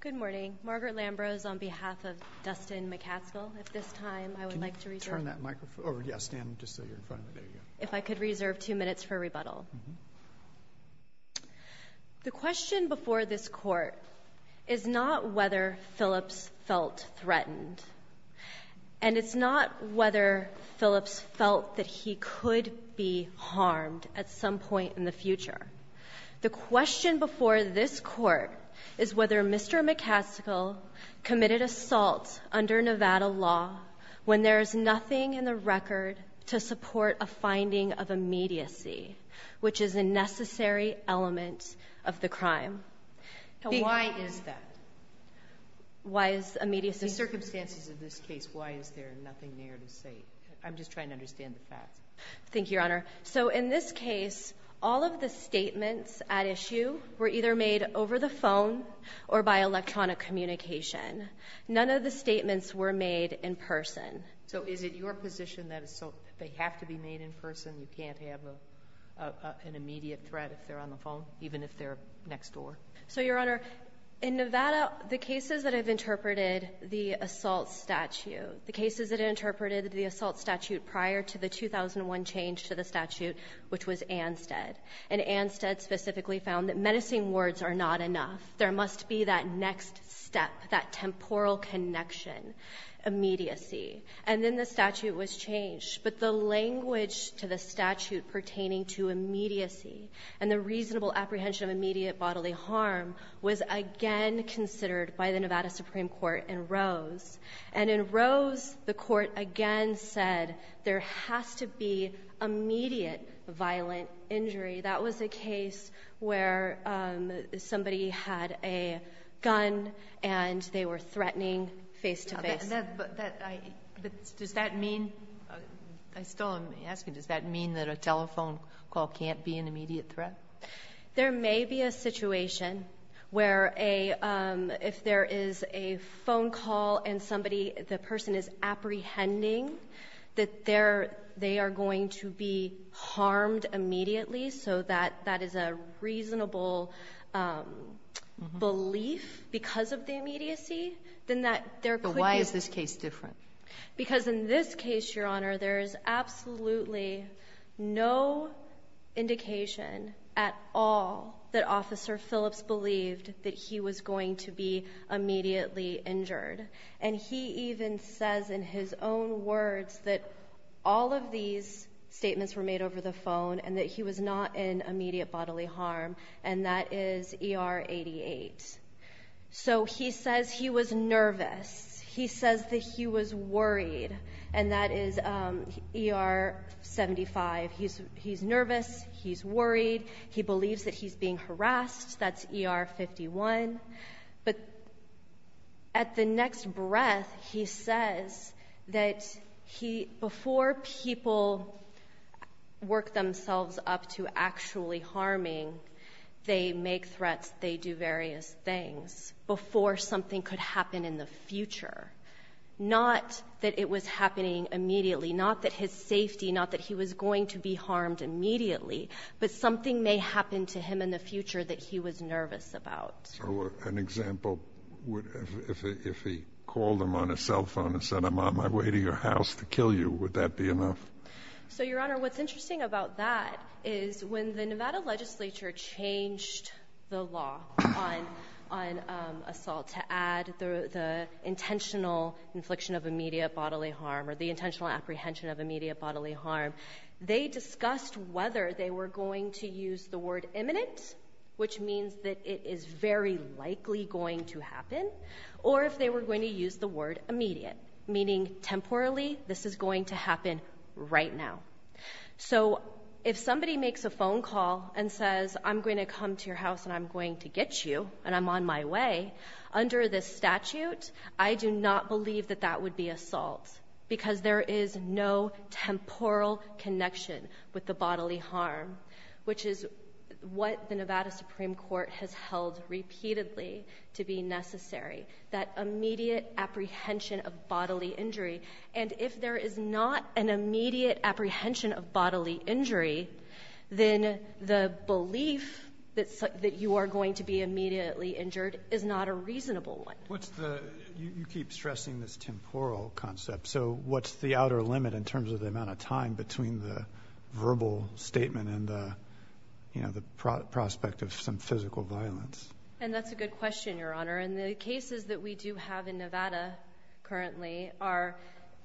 Good morning. Margaret Lambrose on behalf of Dustin McCaskill. If I could reserve two minutes for rebuttal. The question before this court is not whether Phillips felt threatened, and it's not whether Phillips felt that he could be harmed at some point in the future. The question before this court is whether Mr. McCaskill committed assault under Nevada law when there is nothing in the record to support a finding of immediacy, which is a necessary element of the crime. Why is that? Why is immediacy? The circumstances of this case, why is there nothing there to say? I'm just trying to understand the facts. Thank you, Your Honor. So in this case, all of the statements at issue were either made over the phone or by electronic communication. None of the statements were made in person. So is it your position that they have to be made in person? You can't have an immediate threat if they're on the phone, even if they're next door? So, Your Honor, in Nevada, the cases that have interpreted the assault statute, the cases that interpreted the assault statute prior to the 2001 change to the statute, which was Anstead, and Anstead specifically found that menacing words are not enough. There must be that next step, that temporal connection, immediacy. And then the statute was changed. But the language to the statute pertaining to immediacy and the reasonable apprehension of immediate bodily harm was again considered by the Nevada Supreme Court in Rose. And in Rose, the Court again said there has to be immediate violent injury. That was a case where somebody had a gun, and they were threatening face to face. But that does that mean, I still am asking, does that mean that a telephone call can't be an immediate threat? There may be a situation where a — if there is a phone call and somebody, the person is apprehending, that they're — they are going to be harmed immediately, so that that is a reasonable belief because of the immediacy, then that there could be — But why is this case different? Because in this case, Your Honor, there is absolutely no indication at all that Officer Phillips believed that he was going to be immediately injured. And he even says in his own words that all of these statements were made over the phone and that he was not in immediate bodily harm, and that is ER 88. So he says he was nervous. He says that he was worried, and that is ER 75. He's nervous. He's worried. He believes that he's being harassed. That's ER 51. But at the next breath, he says that he — before people work themselves up to actually harming, they make threats, they do various things. Before something could happen in the future, not that it was happening immediately, not that his safety, not that he was going to be harmed immediately, but something may happen to him in the future that he was nervous about. So an example would — if he called him on his cell phone and said, I'm on my way to your house to kill you, would that be enough? So, Your Honor, what's interesting about that is when the Nevada legislature changed the law on assault to add the intentional infliction of immediate bodily harm or the intentional apprehension of immediate bodily harm, they discussed whether they were going to use the word imminent, which means that it is very likely going to happen, or if they were going to use the word immediate, meaning temporally this is going to happen right now. So if somebody makes a phone call and says, I'm going to come to your house and I'm going to get you and I'm on my way, under this statute, I do not believe that that would be assault because there is no temporal connection with the bodily harm, which is what the Nevada Supreme Court has held repeatedly to be necessary, that immediate apprehension of bodily injury. And if there is not an immediate apprehension of bodily injury, then the belief that you are going to be immediately injured is not a reasonable one. What's the — you keep stressing this temporal concept, so what's the outer limit in terms of the amount of time between the verbal statement and, you know, the prospect of some physical violence? And that's a good question, Your Honor. And the cases that we do have in Nevada currently are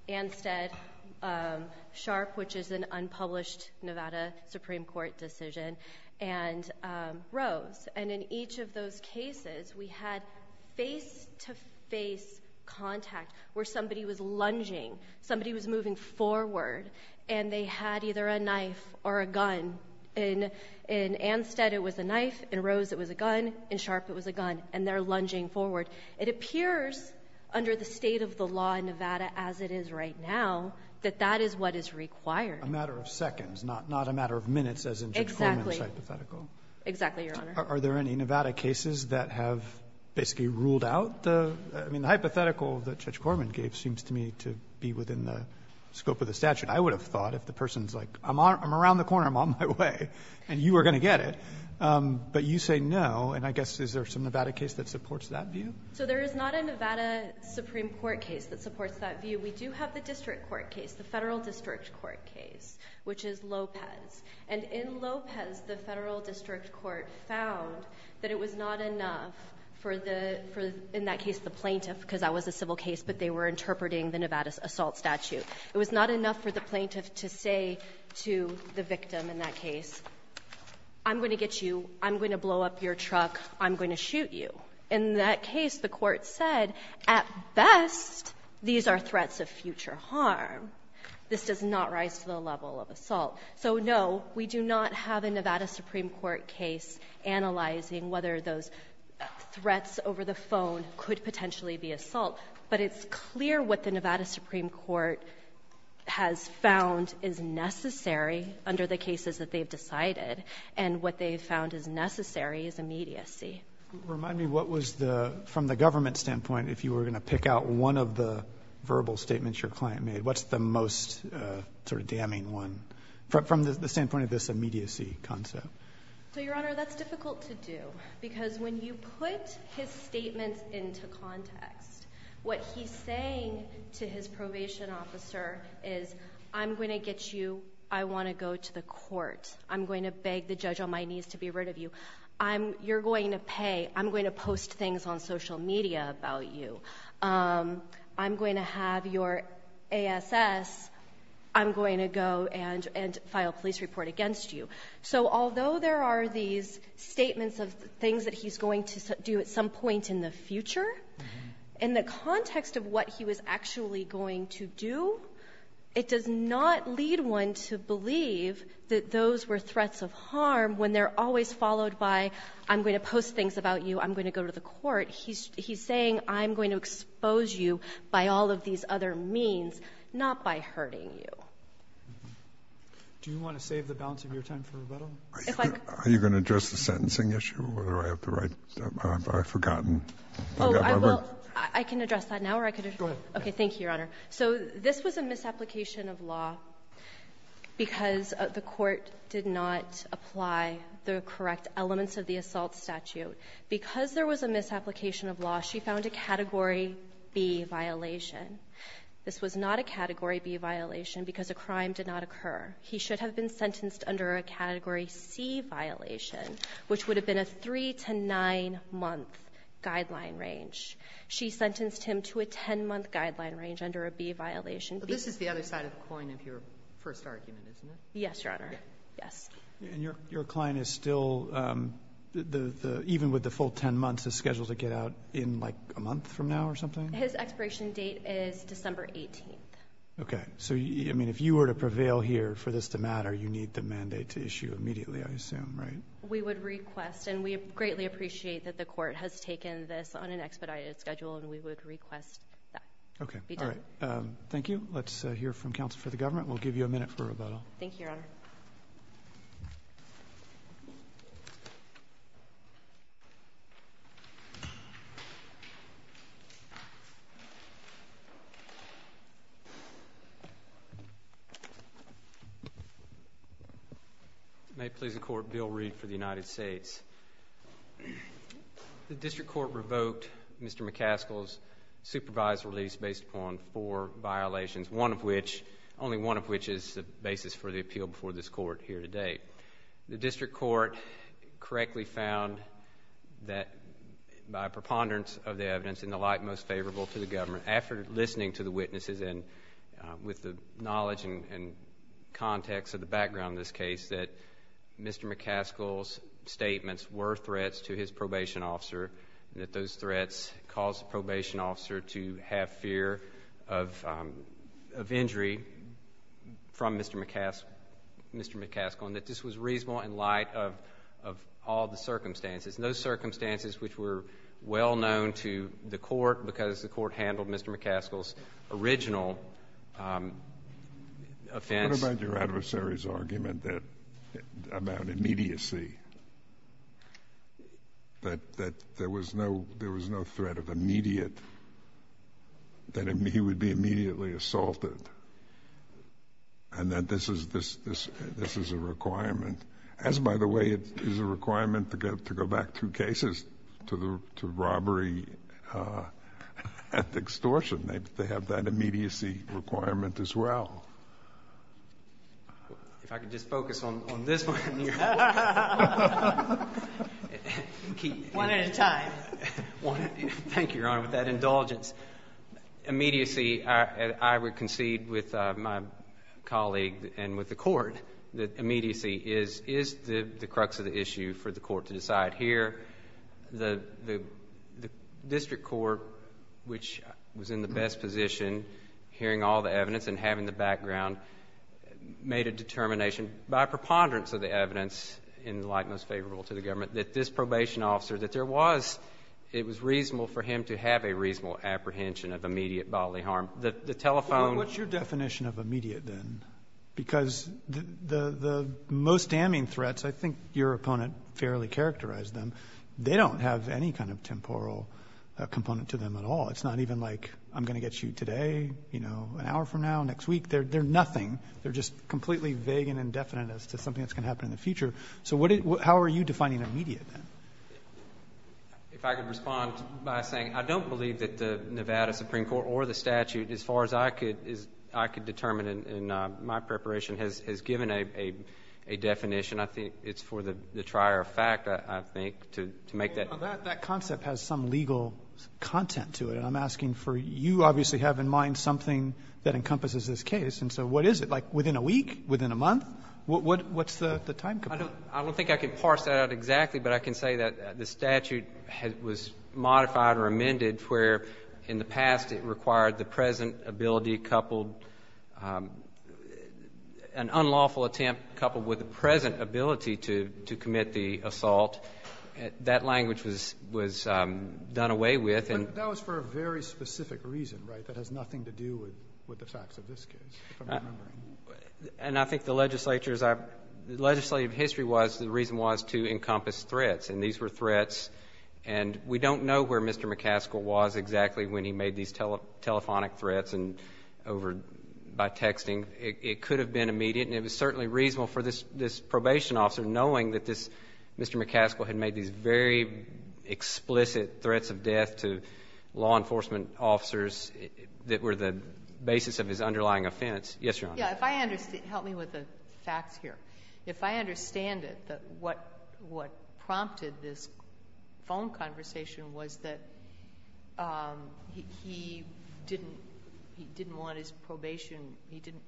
Anstead, Sharp, which is an unpublished Nevada Supreme Court decision, and Rose. And in each of those cases, we had face-to-face contact where somebody was lunging, somebody was moving forward, and they had either a knife or a gun. In Anstead, it was a knife. In Rose, it was a gun. In Sharp, it was a gun. And they're lunging forward. It appears under the state of the law in Nevada as it is right now that that is what is required. Roberts, a matter of seconds, not a matter of minutes, as in Judge Corman's hypothetical. Exactly, Your Honor. Are there any Nevada cases that have basically ruled out the — I mean, the hypothetical that Judge Corman gave seems to me to be within the scope of the statute. I would have thought if the person's like, I'm around the corner, I'm on my way, and you are going to get it. But you say no, and I guess is there some Nevada case that supports that view? So there is not a Nevada Supreme Court case that supports that view. We do have the district court case, the Federal District Court case, which is Lopez. And in Lopez, the Federal District Court found that it was not enough for the — in that case, the plaintiff, because that was a civil case, but they were interpreting the Nevada assault statute. It was not enough for the plaintiff to say to the victim in that case, I'm going to get you, I'm going to blow up your truck, I'm going to shoot you. In that case, the Court said, at best, these are threats of future harm. This does not rise to the level of assault. So, no, we do not have a Nevada Supreme Court case analyzing whether those threats over the phone could potentially be assault. But it's clear what the Nevada Supreme Court has found is necessary under the cases that they've decided, and what they've found is necessary is immediacy. Remind me, what was the — from the government standpoint, if you were going to pick out one of the verbal statements your client made, what's the most sort of damning one, from the standpoint of this immediacy concept? So, Your Honor, that's difficult to do, because when you put his statements into context, what he's saying to his probation officer is, I'm going to get you, I want to go to the court, I'm going to beg the judge on my knees to be rid of you, I'm — you're going to pay, I'm going to post things on social media about you, I'm going to have your ASS, I'm going to go and — and file a police report against you. So, although there are these statements of things that he's going to do at some point in the future, in the context of what he was actually going to do, it does not lead one to believe that those were threats of harm when they're always followed by, I'm going to post things about you, I'm going to go to the court. He's — he's saying, I'm going to expose you by all of these other means, not by hurting you. Do you want to save the balance of your time for rebuttal? If I could — Are you going to address the sentencing issue, or do I have to write — I've forgotten my words. Oh, I will — I can address that now, or I could have — Go ahead. Okay. Thank you, Your Honor. So this was a misapplication of law because the Court did not apply the correct elements of the assault statute. Because there was a misapplication of law, she found a Category B violation. This was not a Category B violation because a crime did not have a guideline range. She sentenced him to a 10-month guideline range under a B violation. This is the other side of the coin of your first argument, isn't it? Yes, Your Honor. Yes. And your client is still — even with the full 10 months, is scheduled to get out in like a month from now or something? His expiration date is December 18th. Okay. So, I mean, if you were to prevail here for this to matter, you need the mandate to issue immediately, I assume, right? We would request, and we greatly appreciate that the Court has taken this on an expedited schedule, and we would request that. Okay. Be done. All right. Thank you. Let's hear from counsel for the government. We'll give you a minute for rebuttal. Thank you, Your Honor. May it please the Court, Bill Reed for the United States. The District Court revoked Mr. McCaskill's supervised release based upon four violations, one of which — only one of which is the basis for the appeal before this Court here today. The District Court correctly found that by preponderance of the evidence in the light most favorable to the government, after listening to the witnesses and with the knowledge and context of the background of this case, that Mr. McCaskill's statements were threats to his probation officer, and that those threats caused the probation officer to have fear of injury from Mr. McCaskill, and that this was reasonable in light of all the circumstances. And those circumstances, which were well known to the Court because the Court handled Mr. McCaskill's original offense. What about your adversary's argument that — about immediacy, that there was no threat of immediate — that he would be immediately assaulted, and that this is a requirement? As by the way, it is a requirement to go back through cases to robbery and extortion. They have that immediacy requirement as well. If I could just focus on this one here. One at a time. Thank you, Your Honor, with that indulgence. Immediacy, I would concede with my colleague and with the Court, that immediacy is the crux of the issue for the Court to decide here. The District Court, which was in the best position, hearing all the evidence and having the background, made a determination by preponderance of the evidence in the light that this probation officer, that there was — it was reasonable for him to have a reasonable apprehension of immediate bodily harm. The telephone — Well, what's your definition of immediate, then? Because the most damning threats — I think your opponent fairly characterized them. They don't have any kind of temporal component to them at all. It's not even like, I'm going to get you today, you know, an hour from now, next week. They're nothing. They're just completely vague and indefinite as to something that's going to happen in the future. So what — how are you defining immediate, then? If I could respond by saying I don't believe that the Nevada Supreme Court or the statute, as far as I could determine in my preparation, has given a definition. I think it's for the trier of fact, I think, to make that — Well, that concept has some legal content to it. And I'm asking for — you obviously have in mind something that encompasses this case. And so what is it? Like, within a week, within a month, what's the time component? I don't think I can parse that out exactly. But I can say that the statute was modified or amended where, in the past, it required the present ability coupled — an unlawful attempt coupled with the present ability to commit the assault. That language was done away with. But that was for a very specific reason, right, that has nothing to do with the facts of this case, if I'm remembering. And I think the legislature's — the legislative history was — the reason was to encompass threats. And these were threats. And we don't know where Mr. McCaskill was exactly when he made these telephonic threats and over — by texting. It could have been immediate. And it was certainly reasonable for this probation officer, knowing that this — Mr. McCaskill had made these very explicit threats of death to law enforcement officers that were the basis of his underlying offense. Yes, Your Honor. Yeah. If I understand — help me with the facts here. If I understand it, what prompted this phone conversation was that he didn't — he didn't want his probation — he didn't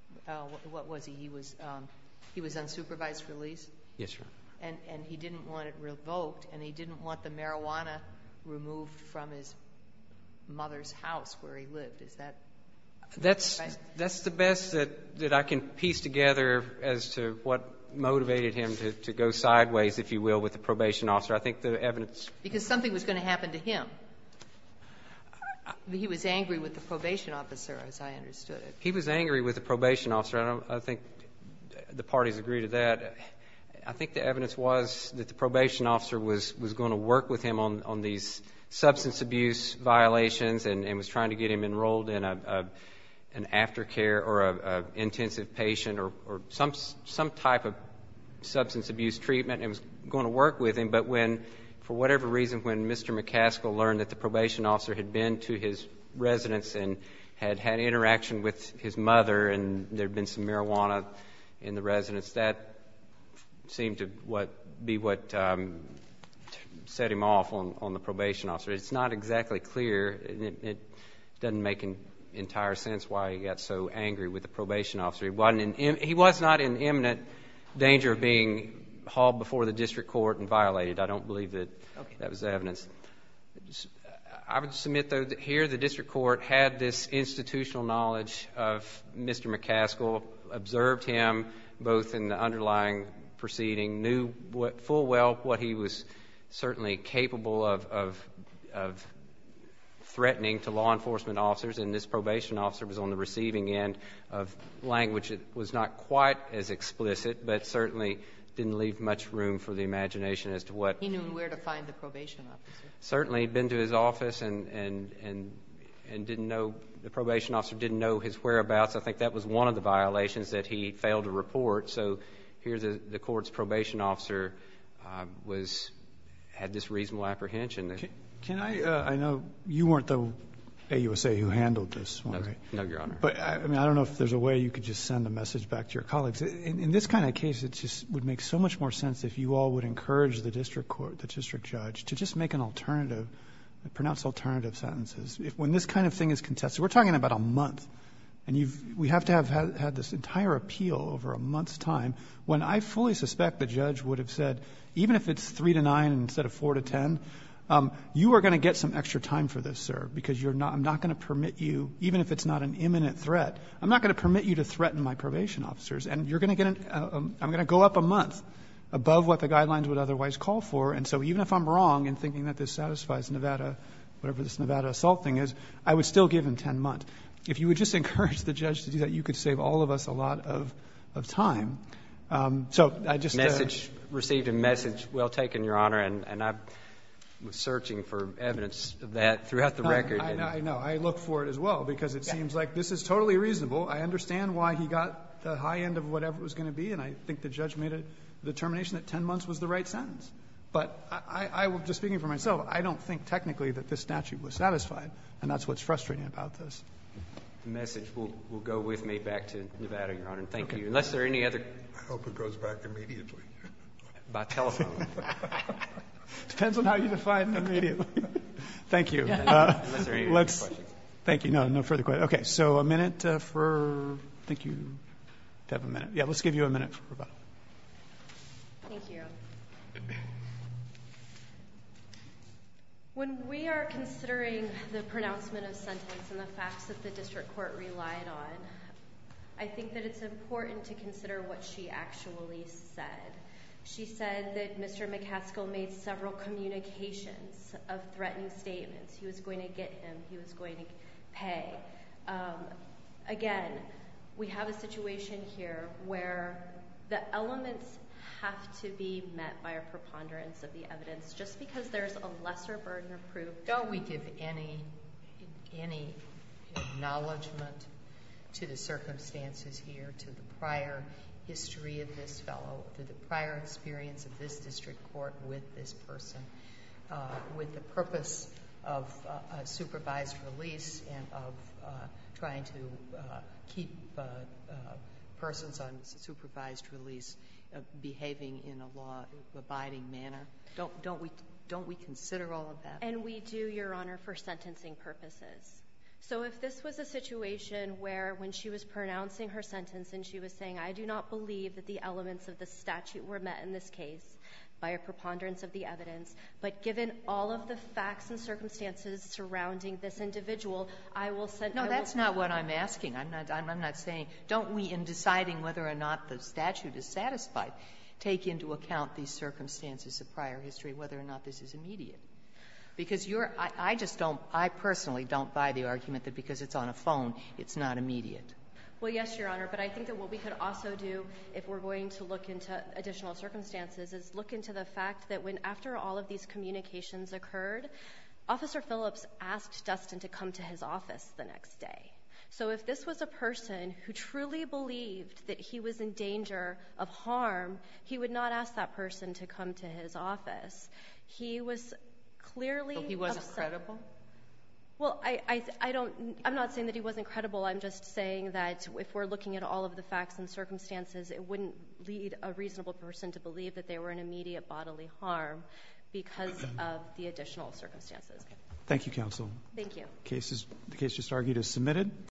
— what was he? He was — he was on supervised release? Yes, Your Honor. And he didn't want it revoked? And he didn't want the marijuana removed from his mother's house where he lived? Is that correct? That's the best that — that I can piece together as to what motivated him to go sideways, if you will, with the probation officer. I think the evidence — Because something was going to happen to him. He was angry with the probation officer, as I understood it. He was angry with the probation officer. I don't — I think the parties agree to that. I think the evidence was that the probation officer was — was going to work with him on these substance abuse violations and was trying to get him enrolled in an aftercare or an intensive patient or some type of substance abuse treatment and was going to work with him. But when — for whatever reason, when Mr. McCaskill learned that the probation officer had been to his residence and had had interaction with his mother and there had been some marijuana in the residence, that seemed to what — be what set him off on the probation officer. It's not exactly clear, and it doesn't make an entire sense why he got so angry with the probation officer. He wasn't in — he was not in imminent danger of being hauled before the district court and violated. I don't believe that — Okay. — that was the evidence. I would submit, though, that here the district court had this institutional knowledge of Mr. McCaskill, observed him both in the underlying proceeding, knew full well what he was certainly capable of — of threatening to law enforcement officers. And this probation officer was on the receiving end of language that was not quite as explicit, but certainly didn't leave much room for the imagination as to what — He knew where to find the probation officer. Certainly. He'd been to his office and — and — and didn't know — the probation officer didn't know his whereabouts. I think that was one of the violations that he failed to report. So here the court's probation officer was — had this reasonable apprehension. Can I — I know you weren't the AUSA who handled this one, right? No, Your Honor. But, I mean, I don't know if there's a way you could just send a message back to your colleagues. In this kind of case, it just would make so much more sense if you all would encourage the district court, the district judge, to just make an alternative — pronounce alternative sentences. When this kind of thing is contested — we're talking about a month, and you've — we have to have had this entire appeal over a month's time, when I fully suspect the judge would have said, even if it's 3 to 9 instead of 4 to 10, you are going to get some extra time for this, sir, because you're not — I'm not going to permit you — even if it's not an imminent threat, I'm not going to permit you to threaten my probation officers. And you're going to get an — I'm going to go up a month above what the guidelines would otherwise call for. And so even if I'm wrong in thinking that this satisfies Nevada, whatever this Nevada assault thing is, I would still give him 10 months. If you would just encourage the judge to do that, you could save all of us a lot of time. So I just — Message — received a message well taken, Your Honor, and I was searching for evidence of that throughout the record. I know. I look for it as well, because it seems like this is totally reasonable. I understand why he got the high end of whatever it was going to be, and I think the judge made a determination that 10 months was the right sentence. But I will — just speaking for myself, I don't think technically that this statute was satisfied, and that's what's frustrating about this. The message will go with me back to Nevada, Your Honor. Thank you. Unless there are any other — I hope it goes back immediately. By telephone. Depends on how you define immediately. Thank you. Unless there are any other questions. Let's — thank you. No, no further questions. Okay. So a minute for — thank you. You have a minute. Yeah. Let's give you a minute for rebuttal. Thank you. Thank you. When we are considering the pronouncement of sentence and the facts that the district court relied on, I think that it's important to consider what she actually said. She said that Mr. McCaskill made several communications of threatening statements. He was going to get him. He was going to pay. Again, we have a situation here where the elements have to be met by a preponderance of the evidence, just because there's a lesser burden of proof. Don't we give any acknowledgement to the circumstances here, to the prior history of this fellow, to the prior experience of this district court with this person, with the purpose of a supervised release and of trying to keep persons on supervised release behaving in a law-abiding manner? Don't we consider all of that? And we do, Your Honor, for sentencing purposes. So if this was a situation where, when she was pronouncing her sentence and she was saying, I do not believe that the elements of the statute were met in this case by a preponderance of the evidence, but given all of the facts and circumstances surrounding this individual, I will send you a letter. No, that's not what I'm asking. I'm not saying don't we, in deciding whether or not the statute is satisfied, take into account these circumstances of prior history, whether or not this is immediate? Because you're — I just don't — I personally don't buy the argument that because it's on a phone, it's not immediate. Well, yes, Your Honor, but I think that what we could also do, if we're going to look into additional circumstances, is look into the fact that when, after all of these communications occurred, Officer Phillips asked Dustin to come to his office the next day. So if this was a person who truly believed that he was in danger of harm, he would not ask that person to come to his office. He was clearly — But he wasn't credible? Well, I don't — I'm not saying that he wasn't credible. I'm just saying that if we're looking at all of the facts and circumstances, it wouldn't lead a reasonable person to believe that they were in immediate bodily harm because of the additional circumstances. Thank you, counsel. Thank you. The case is — the case just argued is submitted.